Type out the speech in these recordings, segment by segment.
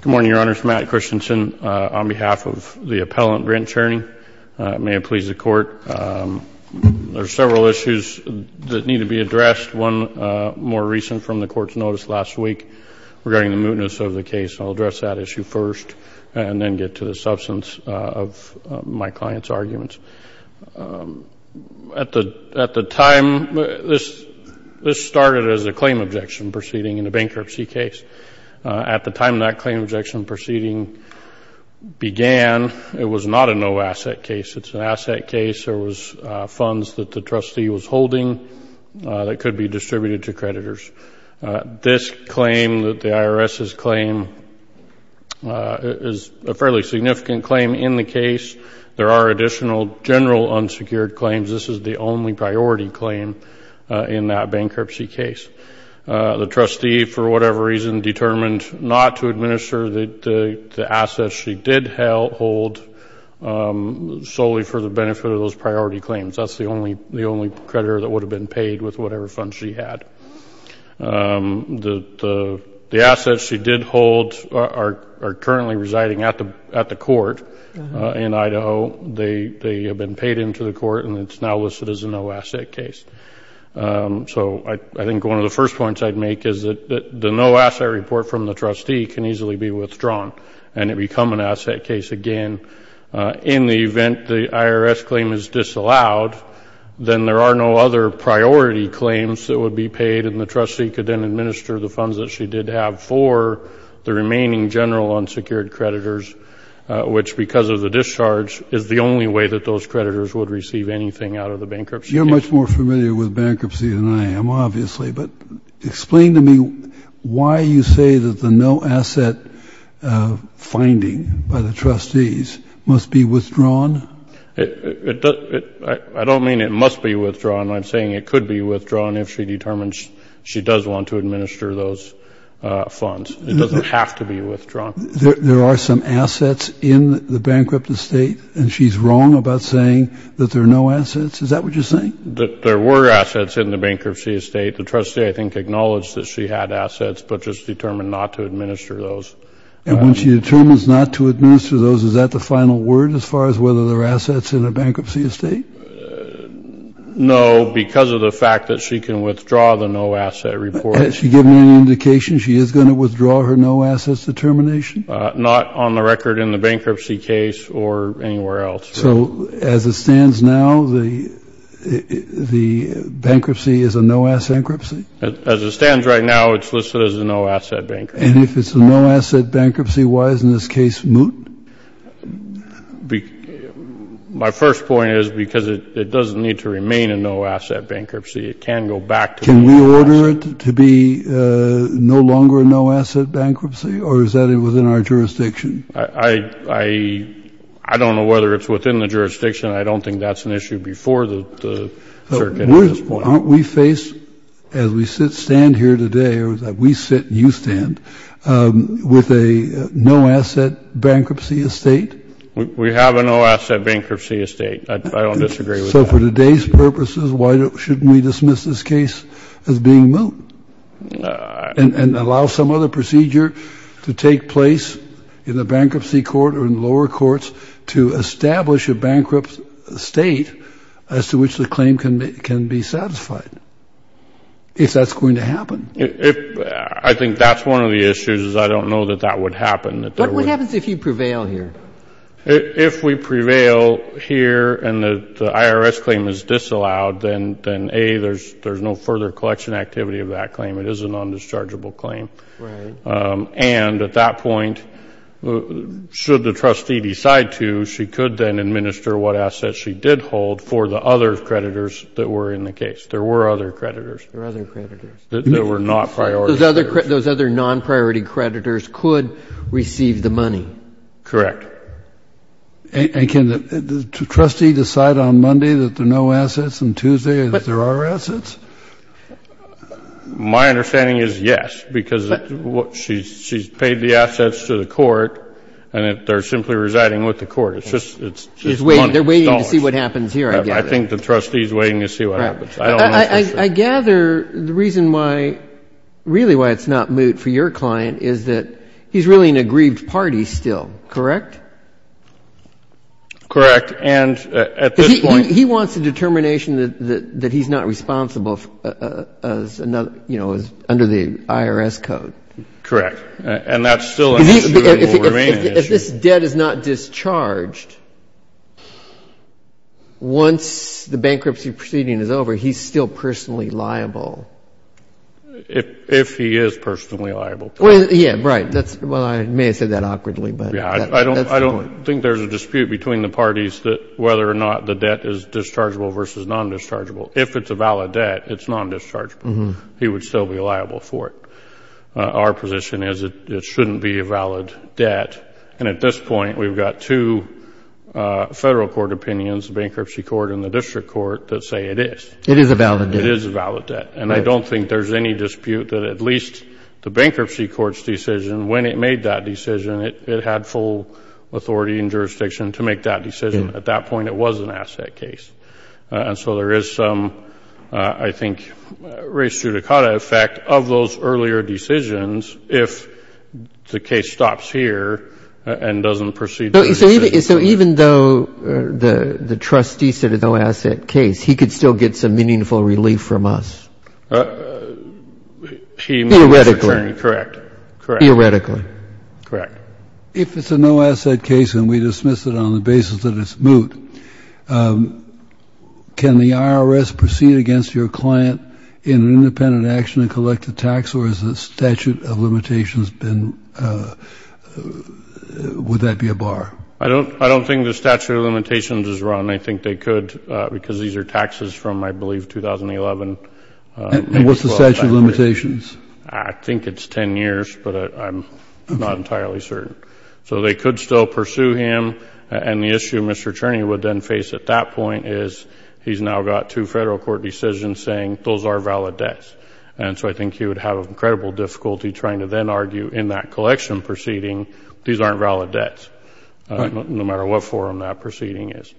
Good morning, Your Honors. Matt Christensen on behalf of the Appellant Brent Cherne. May it please the Court. There are several issues that need to be addressed. One more recent from the Court's notice last week regarding the mootness of the case. I'll address that issue first and then get to the substance of my client's arguments. At the time, this started as a claim objection proceeding in a bankruptcy case. At the time that claim objection proceeding began, it was not a no-asset case. It's an asset case. There was funds that the trustee was holding that could be distributed to creditors. This claim, the IRS's claim, is a fairly significant claim in the case. There are additional general unsecured claims. This is the only priority claim in that bankruptcy case. The trustee, for whatever reason, determined not to administer the assets she did hold solely for the benefit of those priority claims. That's the only creditor that would have been paid with whatever funds she had. The assets she did hold are currently residing at the court in Idaho. They have been paid into the court and it's now listed as a no-asset case. So I think one of the first points I'd make is that the no-asset report from the trustee can easily be withdrawn and it become an asset case again in the event the IRS claim is disallowed, then there are no other priority claims that would be paid and the trustee could then administer the funds that she did have for the remaining general unsecured creditors, which, because of the discharge, is the only way that those creditors would receive anything out of the bankruptcy case. You're much more familiar with bankruptcy than I am, obviously, but explain to me why you say that the no-asset finding by the trustees must be withdrawn? I don't mean it must be withdrawn. I'm saying it could be withdrawn if she determines she does want to administer those funds. It doesn't have to be withdrawn. There are some assets in the bankrupt estate and she's wrong about saying that there are no assets. Is that what you're saying? There were assets in the bankruptcy estate. The trustee, I think, acknowledged that she had assets but just determined not to administer those. And when she determines not to administer those, is that the final word as far as whether there are assets in a bankruptcy estate? No, because of the fact that she can withdraw the no-asset report. Has she given any indication she is going to withdraw her no-assets determination? Not on the record in the bankruptcy case or anywhere else. So as it stands now, the bankruptcy is a no-asset bankruptcy? As it stands right now, it's listed as a no-asset bankruptcy. And if it's a no-asset bankruptcy, why isn't this case moot? My first point is because it doesn't need to remain a no-asset bankruptcy. It can go back to no-asset. Can we order it to be no longer a no-asset bankruptcy or is that within our jurisdiction? I don't know whether it's within the jurisdiction. I don't think that's an issue before the circuit at this point. Aren't we faced, as we stand here today, or as we sit and you stand, with a no-asset bankruptcy estate? We have a no-asset bankruptcy estate. I don't disagree with that. So for today's purposes, why shouldn't we dismiss this case as being moot and allow some other procedure to take place in the bankruptcy court to establish a bankrupt state as to which the claim can be satisfied, if that's going to happen? I think that's one of the issues is I don't know that that would happen. What happens if you prevail here? If we prevail here and the IRS claim is disallowed, then, A, there's no further collection activity of that claim. It is a non-dischargeable claim. Right. And at that point, should the trustee decide to, she could then administer what assets she did hold for the other creditors that were in the case. There were other creditors. There were other creditors. There were not priority creditors. Those other non-priority creditors could receive the money. Correct. And can the trustee decide on Monday that there are no assets and Tuesday that there are assets? My understanding is yes, because she's paid the assets to the court and they're simply residing with the court. It's just money. They're waiting to see what happens here, I gather. I think the trustee is waiting to see what happens. I don't know for sure. I gather the reason why, really why it's not moot for your client is that he's really in a grieved party still, correct? Correct. And at this point he wants a determination that he's not responsible. You know, under the IRS code. Correct. And that's still an issue that will remain an issue. If this debt is not discharged, once the bankruptcy proceeding is over, he's still personally liable. If he is personally liable. Yeah, right. Well, I may have said that awkwardly, but that's the point. I don't think there's a dispute between the parties that whether or not the debt is dischargeable versus non-dischargeable. If it's a valid debt, it's non-dischargeable. He would still be liable for it. Our position is it shouldn't be a valid debt. And at this point we've got two federal court opinions, the bankruptcy court and the district court, that say it is. It is a valid debt. It is a valid debt. And I don't think there's any dispute that at least the bankruptcy court's decision, when it made that decision, it had full authority and jurisdiction to make that decision. At that point it was an asset case. And so there is some, I think, res judicata effect of those earlier decisions if the case stops here and doesn't proceed. So even though the trustee said it's an asset case, he could still get some meaningful relief from us? Theoretically. Correct. Theoretically. Correct. If it's a no-asset case and we dismiss it on the basis that it's moot, can the IRS proceed against your client in an independent action and collect a tax, or has the statute of limitations been ‑‑ would that be a bar? I don't think the statute of limitations is wrong. I think they could because these are taxes from, I believe, 2011. And what's the statute of limitations? I think it's 10 years, but I'm not entirely certain. So they could still pursue him. And the issue Mr. Cerny would then face at that point is he's now got two federal court decisions saying those are valid debts. And so I think he would have incredible difficulty trying to then argue in that collection proceeding, these aren't valid debts, no matter what form that proceeding is.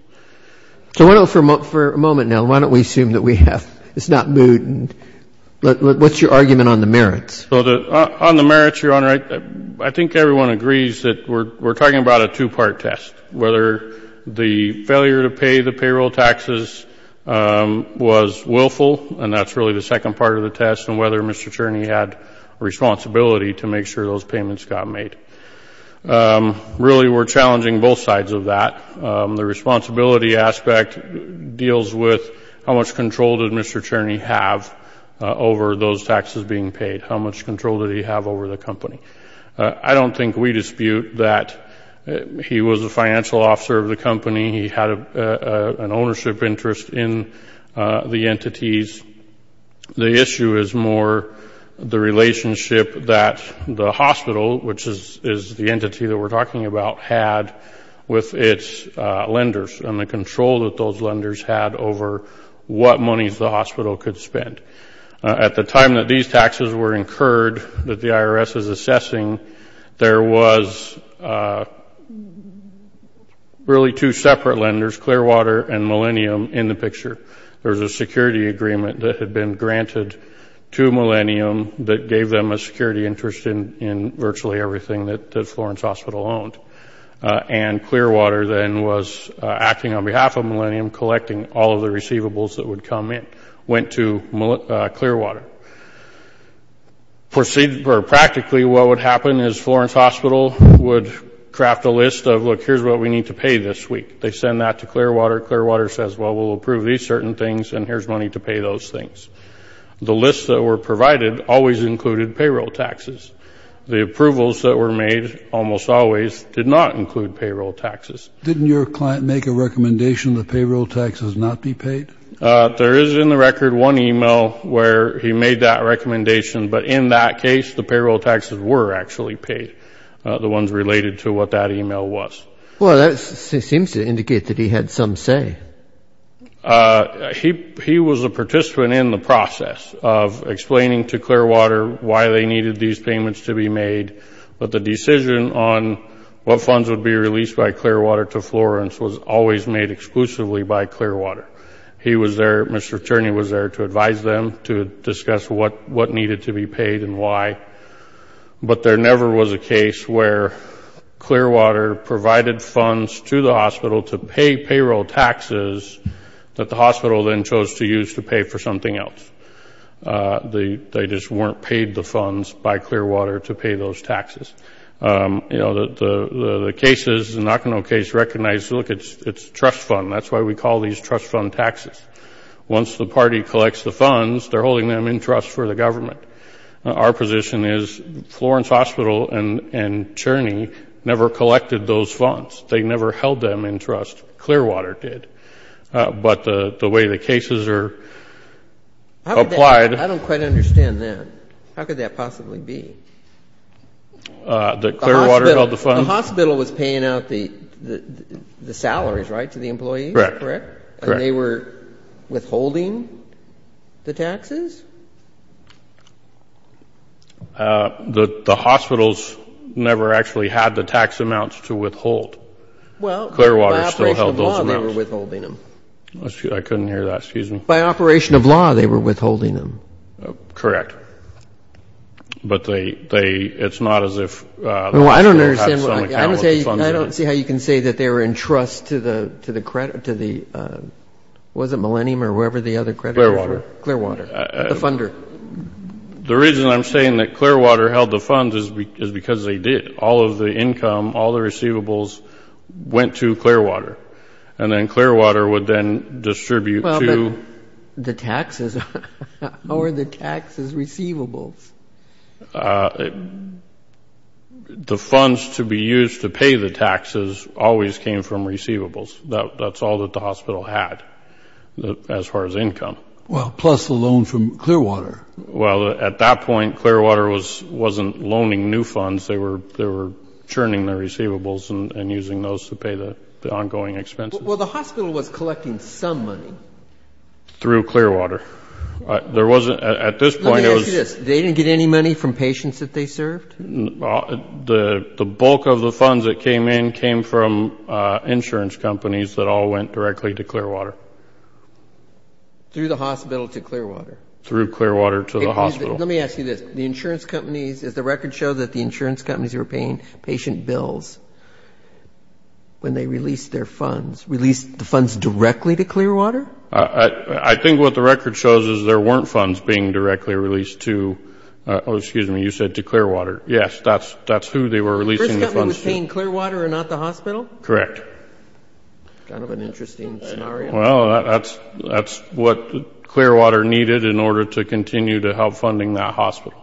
For a moment now, why don't we assume that we have ‑‑ it's not moot. What's your argument on the merits? On the merits, Your Honor, I think everyone agrees that we're talking about a two-part test, whether the failure to pay the payroll taxes was willful, and that's really the second part of the test, and whether Mr. Cerny had a responsibility to make sure those payments got made. Really, we're challenging both sides of that. The responsibility aspect deals with how much control did Mr. Cerny have over those taxes being paid? How much control did he have over the company? I don't think we dispute that he was a financial officer of the company. He had an ownership interest in the entities. The issue is more the relationship that the hospital, which is the entity that we're talking about, had with its lenders and the control that those lenders had over what monies the hospital could spend. At the time that these taxes were incurred that the IRS is assessing, there was really two separate lenders, Clearwater and Millennium, in the picture. There was a security agreement that had been granted to Millennium that gave them a security interest in virtually everything that Florence Hospital owned, and Clearwater then was acting on behalf of Millennium, collecting all of the receivables that would come in, went to Clearwater. Practically, what would happen is Florence Hospital would craft a list of, look, here's what we need to pay this week. They send that to Clearwater. Clearwater says, well, we'll approve these certain things, and here's money to pay those things. The lists that were provided always included payroll taxes. The approvals that were made almost always did not include payroll taxes. Didn't your client make a recommendation that payroll taxes not be paid? There is, in the record, one email where he made that recommendation, but in that case, the payroll taxes were actually paid, the ones related to what that email was. Well, that seems to indicate that he had some say. He was a participant in the process of explaining to Clearwater why they needed these payments to be made, but the decision on what funds would be released by Clearwater to Florence was always made exclusively by Clearwater. He was there, Mr. Tierney was there, to advise them, to discuss what needed to be paid and why, but there never was a case where Clearwater provided funds to the hospital to pay payroll taxes that the hospital then chose to use to pay for something else. They just weren't paid the funds by Clearwater to pay those taxes. You know, the cases, the Nakano case recognized, look, it's a trust fund. That's why we call these trust fund taxes. Once the party collects the funds, they're holding them in trust for the government. Our position is Florence Hospital and Tierney never collected those funds. They never held them in trust. Clearwater did. But the way the cases are applied. I don't quite understand that. How could that possibly be? The Clearwater held the funds? The hospital was paying out the salaries, right, to the employees? Correct. And they were withholding the taxes? The hospitals never actually had the tax amounts to withhold. Clearwater still held those amounts. Well, by operation of law, they were withholding them. I couldn't hear that. Excuse me. By operation of law, they were withholding them. Correct. But it's not as if the hospital had some account with the funds. I don't see how you can say that they were in trust to the, was it Millennium or whoever the other creditors were? Clearwater. Clearwater. The funder. The reason I'm saying that Clearwater held the funds is because they did. All of the income, all the receivables, went to Clearwater. And then Clearwater would then distribute to. The taxes. Or the taxes receivables. The funds to be used to pay the taxes always came from receivables. That's all that the hospital had as far as income. Well, plus a loan from Clearwater. Well, at that point, Clearwater wasn't loaning new funds. They were churning the receivables and using those to pay the ongoing expenses. Well, the hospital was collecting some money. Through Clearwater. There wasn't, at this point, it was. Let me ask you this. They didn't get any money from patients that they served? The bulk of the funds that came in came from insurance companies that all went directly to Clearwater. Through the hospital to Clearwater. Through Clearwater to the hospital. Let me ask you this. The insurance companies, does the record show that the insurance companies were paying patient bills when they released their funds? Released the funds directly to Clearwater? I think what the record shows is there weren't funds being directly released to, oh, excuse me, you said to Clearwater. Yes, that's who they were releasing the funds to. The insurance company was paying Clearwater and not the hospital? Correct. Kind of an interesting scenario. Well, that's what Clearwater needed in order to continue to help funding that hospital.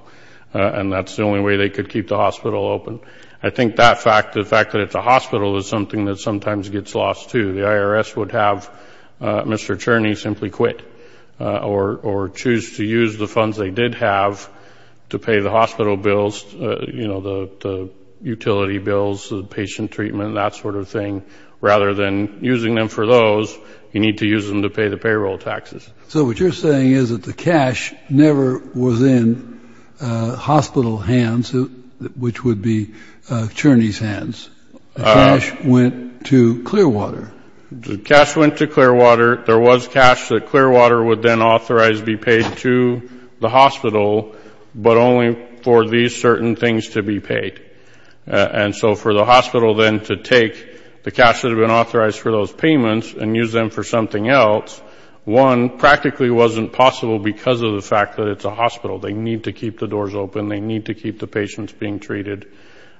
And that's the only way they could keep the hospital open. I think that fact, the fact that it's a hospital, is something that sometimes gets lost, too. The IRS would have Mr. Cherney simply quit or choose to use the funds they did have to pay the hospital bills, you know, the utility bills, the patient treatment, that sort of thing. Rather than using them for those, you need to use them to pay the payroll taxes. So what you're saying is that the cash never was in hospital hands, which would be Cherney's hands. Cash went to Clearwater. Cash went to Clearwater. There was cash that Clearwater would then authorize be paid to the hospital, but only for these certain things to be paid. And so for the hospital then to take the cash that had been authorized for those payments and use them for something else, one, practically wasn't possible because of the fact that it's a hospital. They need to keep the doors open. They need to keep the patients being treated.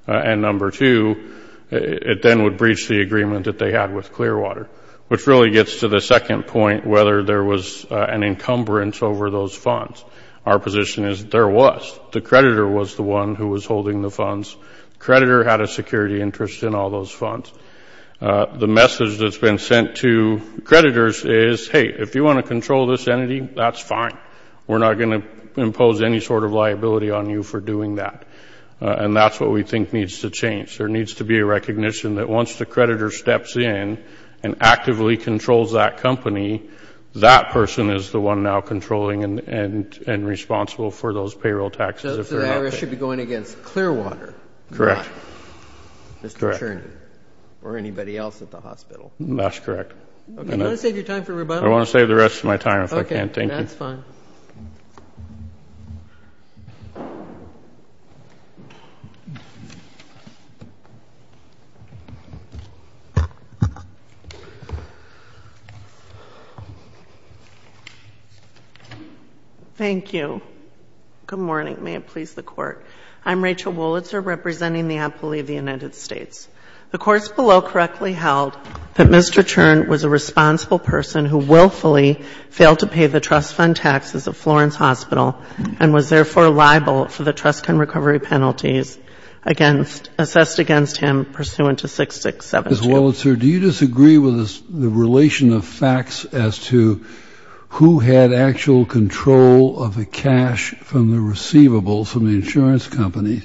And number two, it then would breach the agreement that they had with Clearwater, which really gets to the second point, whether there was an encumbrance over those funds. Our position is there was. The creditor was the one who was holding the funds. Creditor had a security interest in all those funds. The message that's been sent to creditors is, hey, if you want to control this entity, that's fine. We're not going to impose any sort of liability on you for doing that. And that's what we think needs to change. There needs to be a recognition that once the creditor steps in and actively controls that company, that person is the one now controlling and responsible for those payroll taxes. So the IRS should be going against Clearwater. Correct. Mr. Churney or anybody else at the hospital. That's correct. Do you want to save your time for rebuttal? I want to save the rest of my time if I can. Okay, that's fine. Thank you. Thank you. Good morning. May it please the Court. I'm Rachel Woolitzer, representing the appellee of the United States. The Court's below correctly held that Mr. Churney was a responsible person who willfully failed to pay the trust fund taxes at Florence Hospital and was therefore liable for the trust fund recovery penalties assessed against him pursuant to 6672. Ms. Woolitzer, do you disagree with the relation of facts as to who had actual control of the cash from the receivables, from the insurance company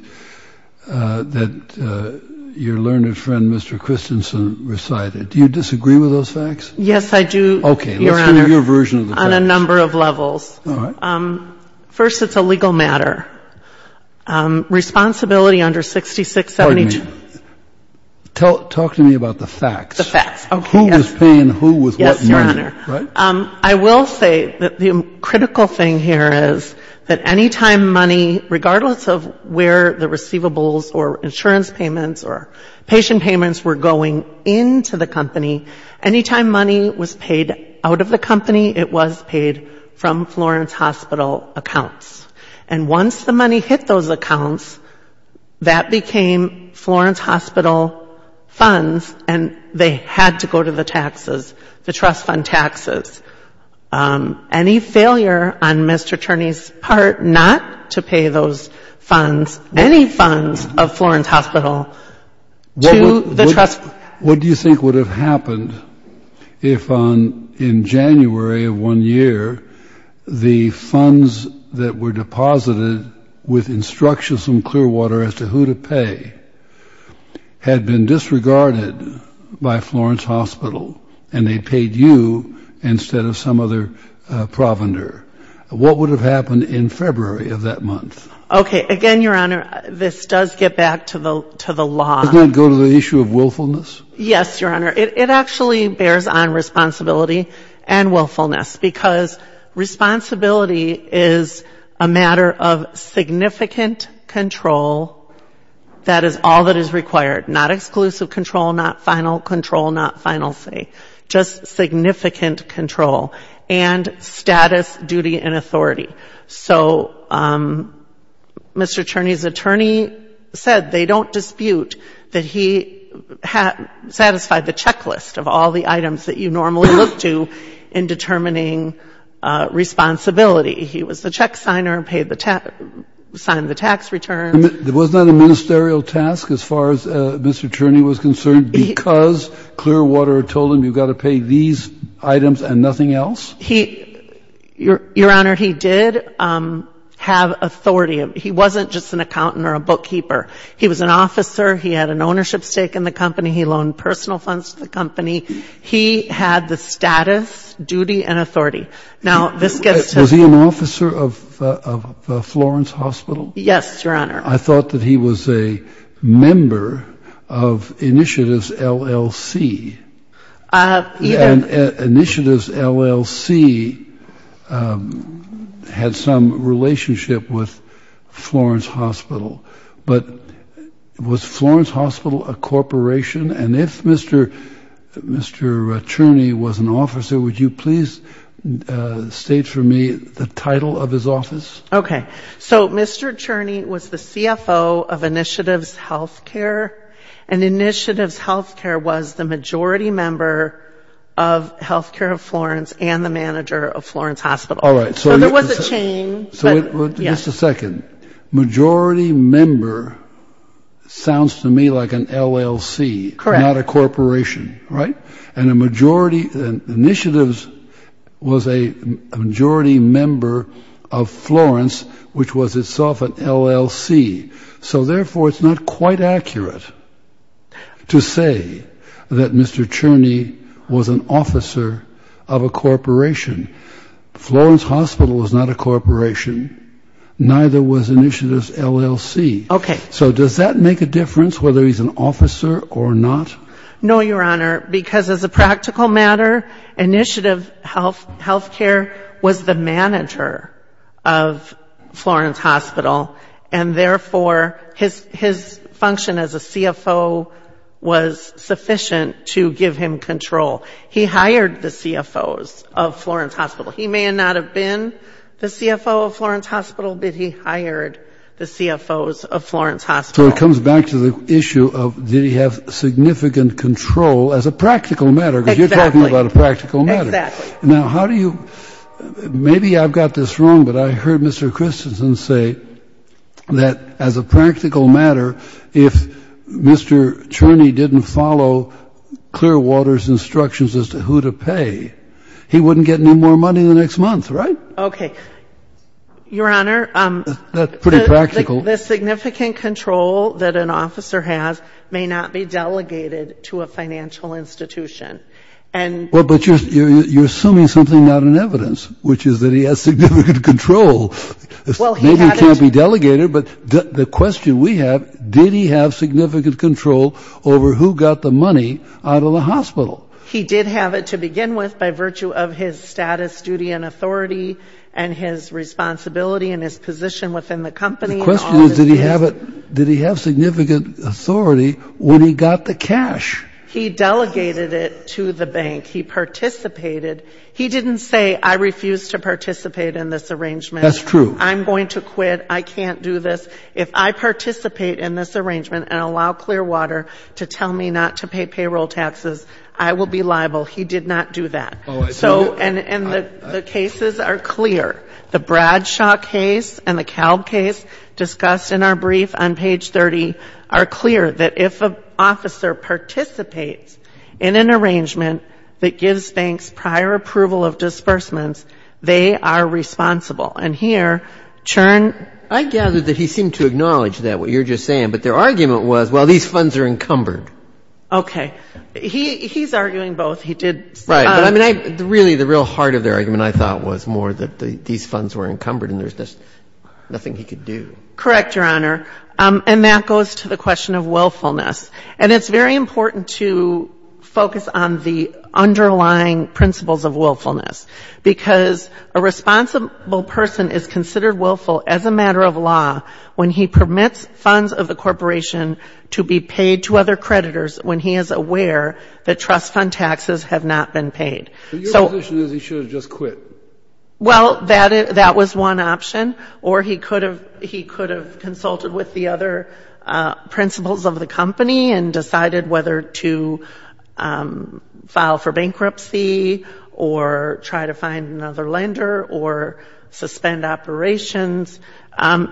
that your learned friend Mr. Christensen recited? Do you disagree with those facts? Yes, I do, Your Honor. Okay, let's hear your version of the facts. On a number of levels. All right. First, it's a legal matter. Responsibility under 6672. Pardon me. Talk to me about the facts. The facts. Okay, yes. Who was paying who with what money? Yes, Your Honor. Right? I will say that the critical thing here is that any time money, regardless of where the receivables or insurance payments or patient payments were going into the company, any time money was paid out of the company, it was paid from Florence Hospital accounts. And once the money hit those accounts, that became Florence Hospital funds, and they had to go to the taxes, the trust fund taxes. Any failure on Mr. Turney's part not to pay those funds, any funds of Florence Hospital to the trust fund. What do you think would have happened if in January of one year, the funds that were deposited with instructions from Clearwater as to who to pay had been disregarded by Florence Hospital, and they paid you instead of Florence Hospital? What would have happened in February of that month? Okay. Again, Your Honor, this does get back to the law. Doesn't that go to the issue of willfulness? Yes, Your Honor. It actually bears on responsibility and willfulness, because responsibility is a matter of significant control. That is all that is required. Not exclusive control, not final control, not final say, just significant control. And status, duty and authority. So Mr. Turney's attorney said they don't dispute that he satisfied the checklist of all the items that you normally look to in determining responsibility. He was the check signer, signed the tax returns. Wasn't that a ministerial task as far as Mr. Turney was concerned, because Clearwater told him you've got to pay these items and nothing else? Your Honor, he did have authority. He wasn't just an accountant or a bookkeeper. He was an officer. He had an ownership stake in the company. He loaned personal funds to the company. He had the status, duty and authority. Was he an officer of Florence Hospital? Yes, Your Honor. I thought that he was a member of Initiatives, LLC. And Initiatives, LLC had some relationship with Florence Hospital. But was Florence Hospital a corporation? And if Mr. Turney was an officer, would you please state for me the title of his office? Okay. So Mr. Turney was the CFO of Initiatives Healthcare, and Initiatives Healthcare was the majority member of Healthcare of Florence and the manager of Florence Hospital. All right. So there was a chain. Just a second. Majority member sounds to me like an LLC, not a corporation, right? And Initiatives was a majority member of Florence, which was itself an LLC. So therefore it's not quite accurate to say that Mr. Turney was an officer of a corporation. Florence Hospital was not a corporation, neither was Initiatives, LLC. Okay. So does that make a difference whether he's an officer or not? No, Your Honor, because as a practical matter, Initiatives Healthcare was the manager of Florence Hospital, and therefore his function as a CFO was sufficient to give him control. He hired the CFOs of Florence Hospital. He may not have been the CFO of Florence Hospital, but he hired the CFOs of Florence Hospital. So it comes back to the issue of did he have significant control as a practical matter, because you're talking about a practical matter. Exactly. Now, how do you — maybe I've got this wrong, but I heard Mr. Christensen say that as a practical matter, if Mr. Turney didn't follow Clearwater's instructions as to who to pay, he wouldn't get any more money the next month, right? Okay. Your Honor, the significant control that an officer has may not be delegated to a financial institution. Well, but you're assuming something not in evidence, which is that he has significant control. Maybe it can't be delegated, but the question we have, did he have significant control over who got the money out of the hospital? He did have it to begin with by virtue of his status, duty and authority and his responsibility and his position within the company. The question is, did he have significant authority when he got the cash? He delegated it to the bank. He participated. He didn't say I refuse to participate in this arrangement. That's true. I'm going to quit. I can't do this. If I participate in this arrangement and allow Clearwater to tell me not to pay payroll taxes, I will be liable. He did not do that. And the cases are clear. The Bradshaw case and the Kalb case discussed in our brief on page 30 are clear, that if an officer participates in an arrangement that gives banks prior approval of disbursements, they are responsible. And here, Chern ---- I gather that he seemed to acknowledge that, what you're just saying, but their argument was, well, these funds are encumbered. Really, the real heart of their argument, I thought, was more that these funds were encumbered and there's just nothing he could do. Correct, Your Honor. And that goes to the question of willfulness. And it's very important to focus on the underlying principles of willfulness, because a responsible person is considered willful as a matter of law when he permits funds of the corporation to be paid to other creditors when he is aware that he is not. Your position is he should have just quit. Well, that was one option. Or he could have consulted with the other principles of the company and decided whether to file for bankruptcy or try to find another lender or suspend operations,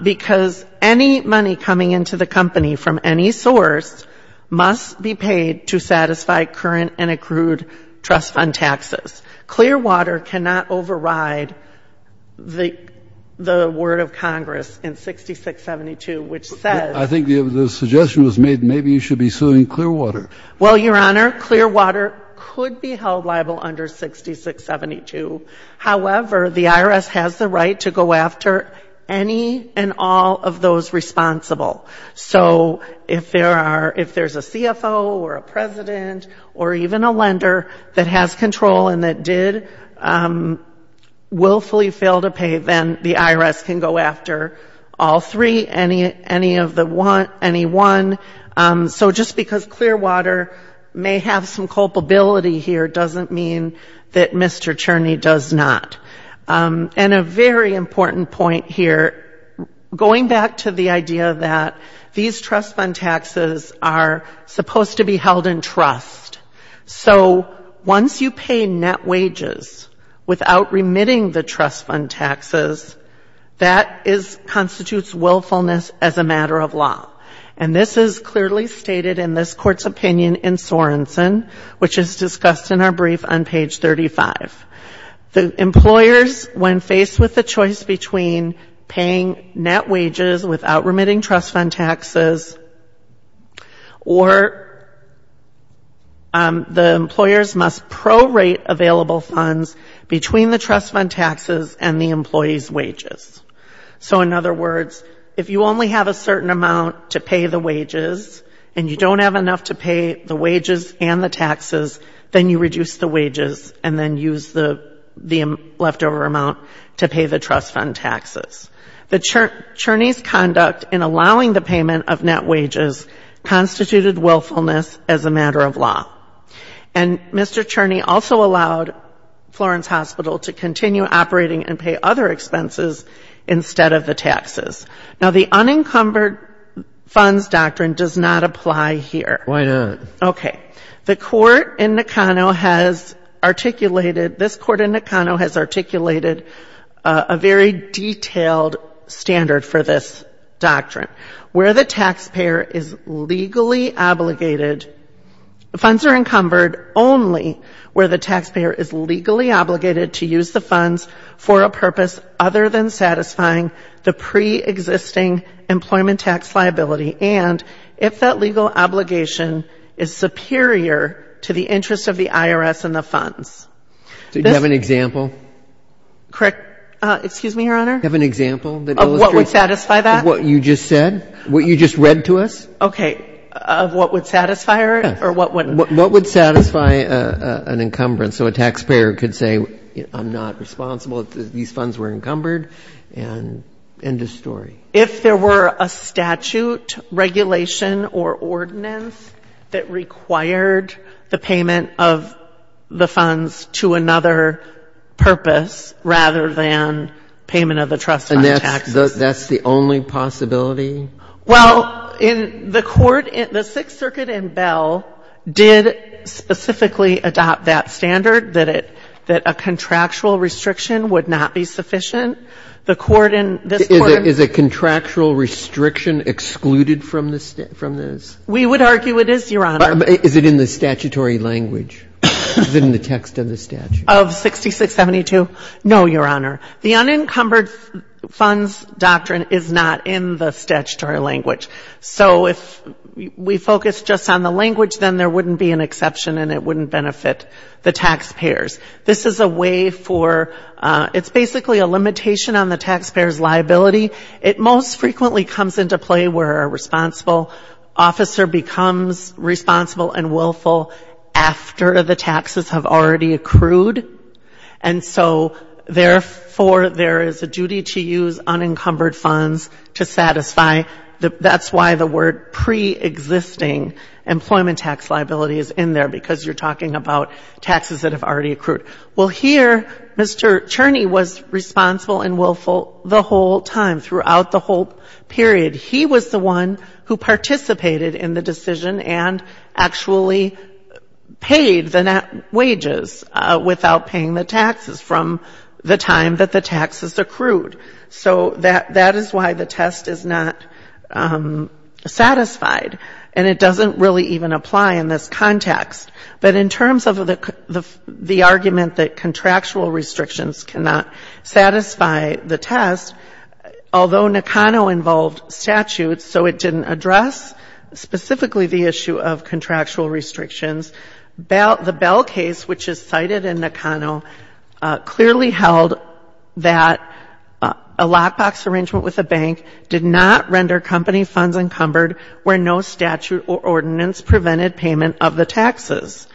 because any money coming into the company from any source must be paid to the creditors. Clearwater cannot override the word of Congress in 6672, which says I think the suggestion was made maybe you should be suing Clearwater. Well, Your Honor, Clearwater could be held liable under 6672. However, the IRS has the right to go after any and all of those responsible. So if there are ---- if there's a CFO or a president or even a lender that has control and that does not have any money and did willfully fail to pay, then the IRS can go after all three, any of the one, any one. So just because Clearwater may have some culpability here doesn't mean that Mr. Cherney does not. And a very important point here, going back to the idea that these trust fund taxes are supposed to be held in trust. So once you pay net wages without remitting the trust fund taxes, that constitutes willfulness as a matter of law. And this is clearly stated in this Court's opinion in Sorensen, which is discussed in our brief on page 35. The employers, when faced with the choice between paying net wages without remitting trust fund taxes or paying net wages without remitting the trust fund taxes, the employers must prorate available funds between the trust fund taxes and the employees' wages. So in other words, if you only have a certain amount to pay the wages and you don't have enough to pay the wages and the taxes, then you reduce the wages and then use the leftover amount to pay the trust fund taxes. The Cherney's conduct in allowing the payment of net wages constituted willfulness as a matter of law. And Mr. Cherney also allowed Florence Hospital to continue operating and pay other expenses instead of the taxes. Now, the unencumbered funds doctrine does not apply here. Why not? Okay. The Court in Nakano has articulated, this Court in Nakano has articulated a very detailed standard for this doctrine. Where the taxpayer is legally obligated, funds are encumbered only where the taxpayer is legally obligated to use the funds for a purpose other than satisfying the preexisting employment tax liability. And if that legal obligation is superior to the interest of the IRS in the funds. Do you have an example? Correct. Excuse me, Your Honor? Do you have an example that illustrates? Of what would satisfy that? Of what you just said? What you just read to us? Okay. Of what would satisfy or what would? What would satisfy an encumbrance? So a taxpayer could say, I'm not responsible, these funds were encumbered, and end of story. If there were a statute, regulation or ordinance that required the payment of the funds to another purpose rather than payment of the trust fund taxes. And that's the only possibility? Well, in the Court, the Sixth Circuit in Bell did specifically adopt that standard that a contractual restriction would not be sufficient. The Court in this Court. Is a contractual restriction excluded from this? We would argue it is, Your Honor. Is it in the statutory language? Is it in the text of the statute? Of 6672? No, Your Honor. The unencumbered funds doctrine is not in the statutory language. So if we focus just on the language, then there wouldn't be an exception and it wouldn't benefit the taxpayers. This is a way for, it's basically a limitation on the taxpayer's liability. It most frequently comes into play where a responsible officer becomes responsible and willful after the taxes have already accrued. And so, therefore, there is a duty to use unencumbered funds to satisfy. That's why the word preexisting employment tax liability is in there because you're talking about taxes that have already accrued. Well, here, Mr. Cherney was responsible and willful the whole time, throughout the whole period. He was the one who participated in the decision and actually paid the net wages without paying the taxes from the time that the taxes accrued. So that is why the test is not satisfied. And it doesn't really even apply in this context. But in terms of the argument that contractual restrictions cannot satisfy the test, although Nakano involved statutes, so it didn't address specifically the issue of contractual restrictions, the Bell case, which is cited in Nakano, clearly held that a lockbox arrangement with a bank did not render company funds encumbered where no statute or ordinance prevented payment of the taxes.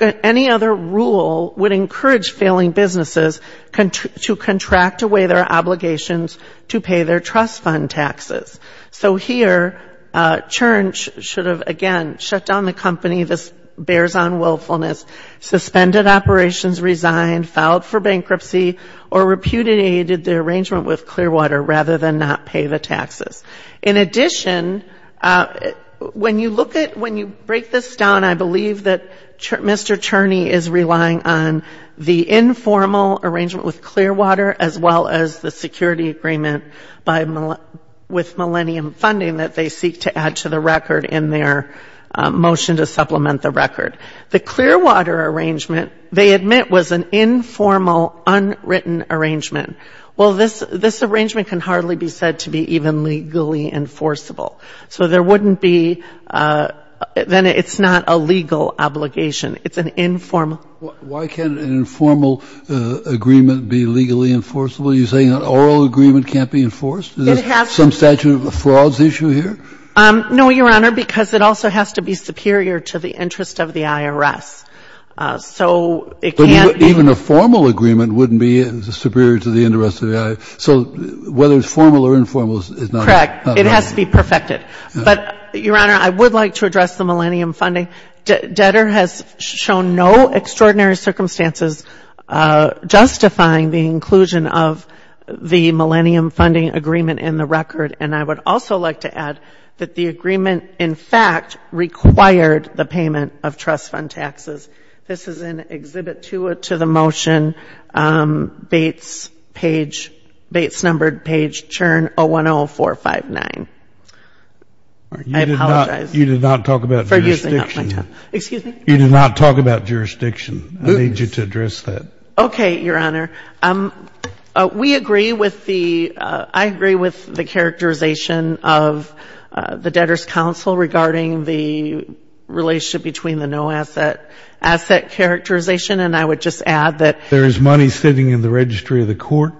Any other rule would encourage failing businesses to contract away their obligations to pay their trust fund taxes. So here Cherney should have, again, shut down the company, this bears on willfulness, suspended operations, resigned, filed for bankruptcy, or repudiated the arrangement with Clearwater rather than not pay the taxes. In addition, when you look at, when you break this down, I believe that Mr. Cherney is relying on the informal arrangement with Clearwater as well as the security agreement with Millennium Funding that they seek to add to the record in their motion to supplement the record. The Clearwater arrangement, they admit, was an informal, unwritten arrangement. Well, this arrangement can hardly be said to be even legally enforceable. So there wouldn't be, then it's not a legal obligation. It's an informal. Why can't an informal agreement be legally enforceable? You're saying an oral agreement can't be enforced? Is there some statute of frauds issue here? No, Your Honor, because it also has to be superior to the interest of the IRS. So it can't be. But even a formal agreement wouldn't be superior to the interest of the IRS. So whether it's formal or informal is not... Correct. It has to be perfected. But, Your Honor, I would like to address the Millennium Funding. Debtor has shown no extraordinary circumstances justifying the inclusion of the Millennium Funding agreement in the record. And I would also like to add that the agreement, in fact, required the payment of trust fund taxes. This is in Exhibit 2 to the motion, Bates page, Bates numbered page churn 010459. I apologize for using up my time. You did not talk about jurisdiction. I need you to address that. Okay, Your Honor. We agree with the ‑‑ I agree with the characterization of the Debtors' Council regarding the relationship between the no asset asset characterization, and I would just add that... There is money sitting in the registry of the court?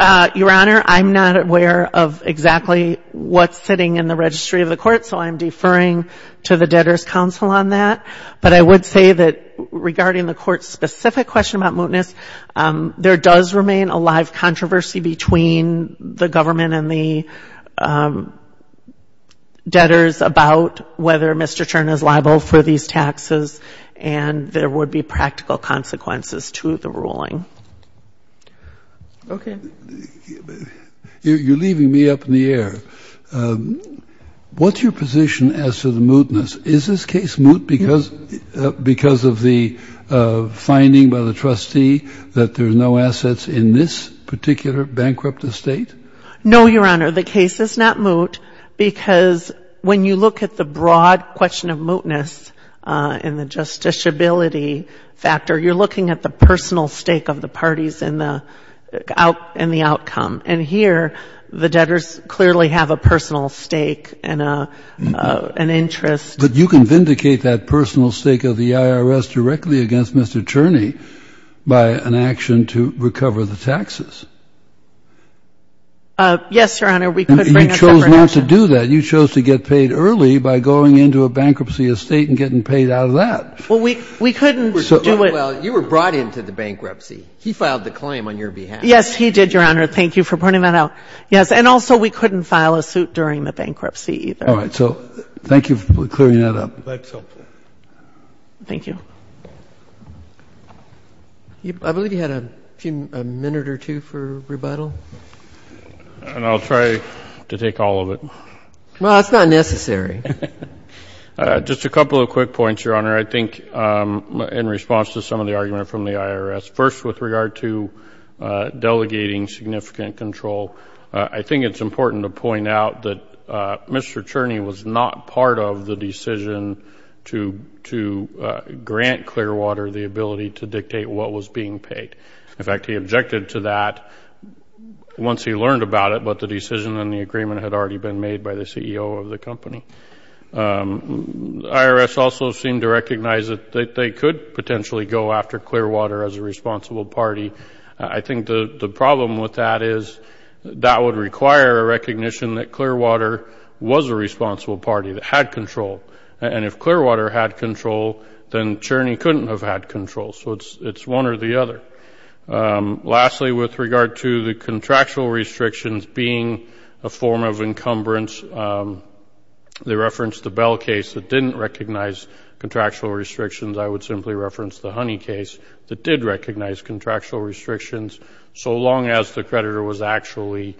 Your Honor, I'm not aware of exactly what's sitting in the registry of the court, so I'm deferring to the Debtors' Council on that. But I would say that regarding the court's specific question about mootness, there does remain a live controversy between the government and the debtors about whether Mr. Chern is liable for these taxes, and there would be practical consequences to the ruling. Okay. You're leaving me up in the air. What's your position as to the mootness? Is this case moot because of the finding by the trustee that there's no assets in this particular bankrupt estate? No, Your Honor. The case is not moot because when you look at the broad question of mootness and the justiciability factor, you're looking at the personal stake of the parties in the outcome. And here, the debtors clearly have a personal stake and an interest. But you can vindicate that personal stake of the IRS directly against Mr. Cherny by an action to recover the taxes. Yes, Your Honor, we could bring a separate action. Well, you were brought into the bankruptcy. He filed the claim on your behalf. Yes, he did, Your Honor. Thank you for pointing that out. Yes, and also we couldn't file a suit during the bankruptcy, either. All right, so thank you for clearing that up. Thank you. I believe you had a minute or two for rebuttal. And I'll try to take all of it. Well, that's not necessary. Just a couple of quick points, Your Honor, I think in response to some of the argument from the IRS. First, with regard to delegating significant control, I think it's important to point out that Mr. Cherny was not part of the decision to grant Clearwater the ability to dictate what was being paid. In fact, he objected to that once he learned about it, but the decision and the agreement had already been made by the CEO of the company. The IRS also seemed to recognize that they could potentially go after Clearwater as a responsible party. I think the problem with that is that would require a recognition that Clearwater was a responsible party that had control. And if Clearwater had control, then Cherny couldn't have had control. So it's one or the other. Lastly, with regard to the contractual restrictions being a form of encumbrance, they referenced the Bell case that didn't recognize contractual restrictions. I would simply reference the Honey case that did recognize contractual restrictions, so long as the creditor was actually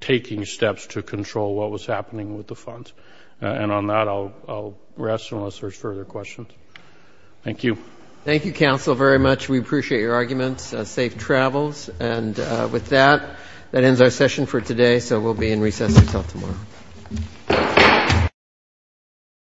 taking steps to control what was happening with the funds. And on that, I'll rest unless there's further questions. Thank you. Thank you, counsel, very much.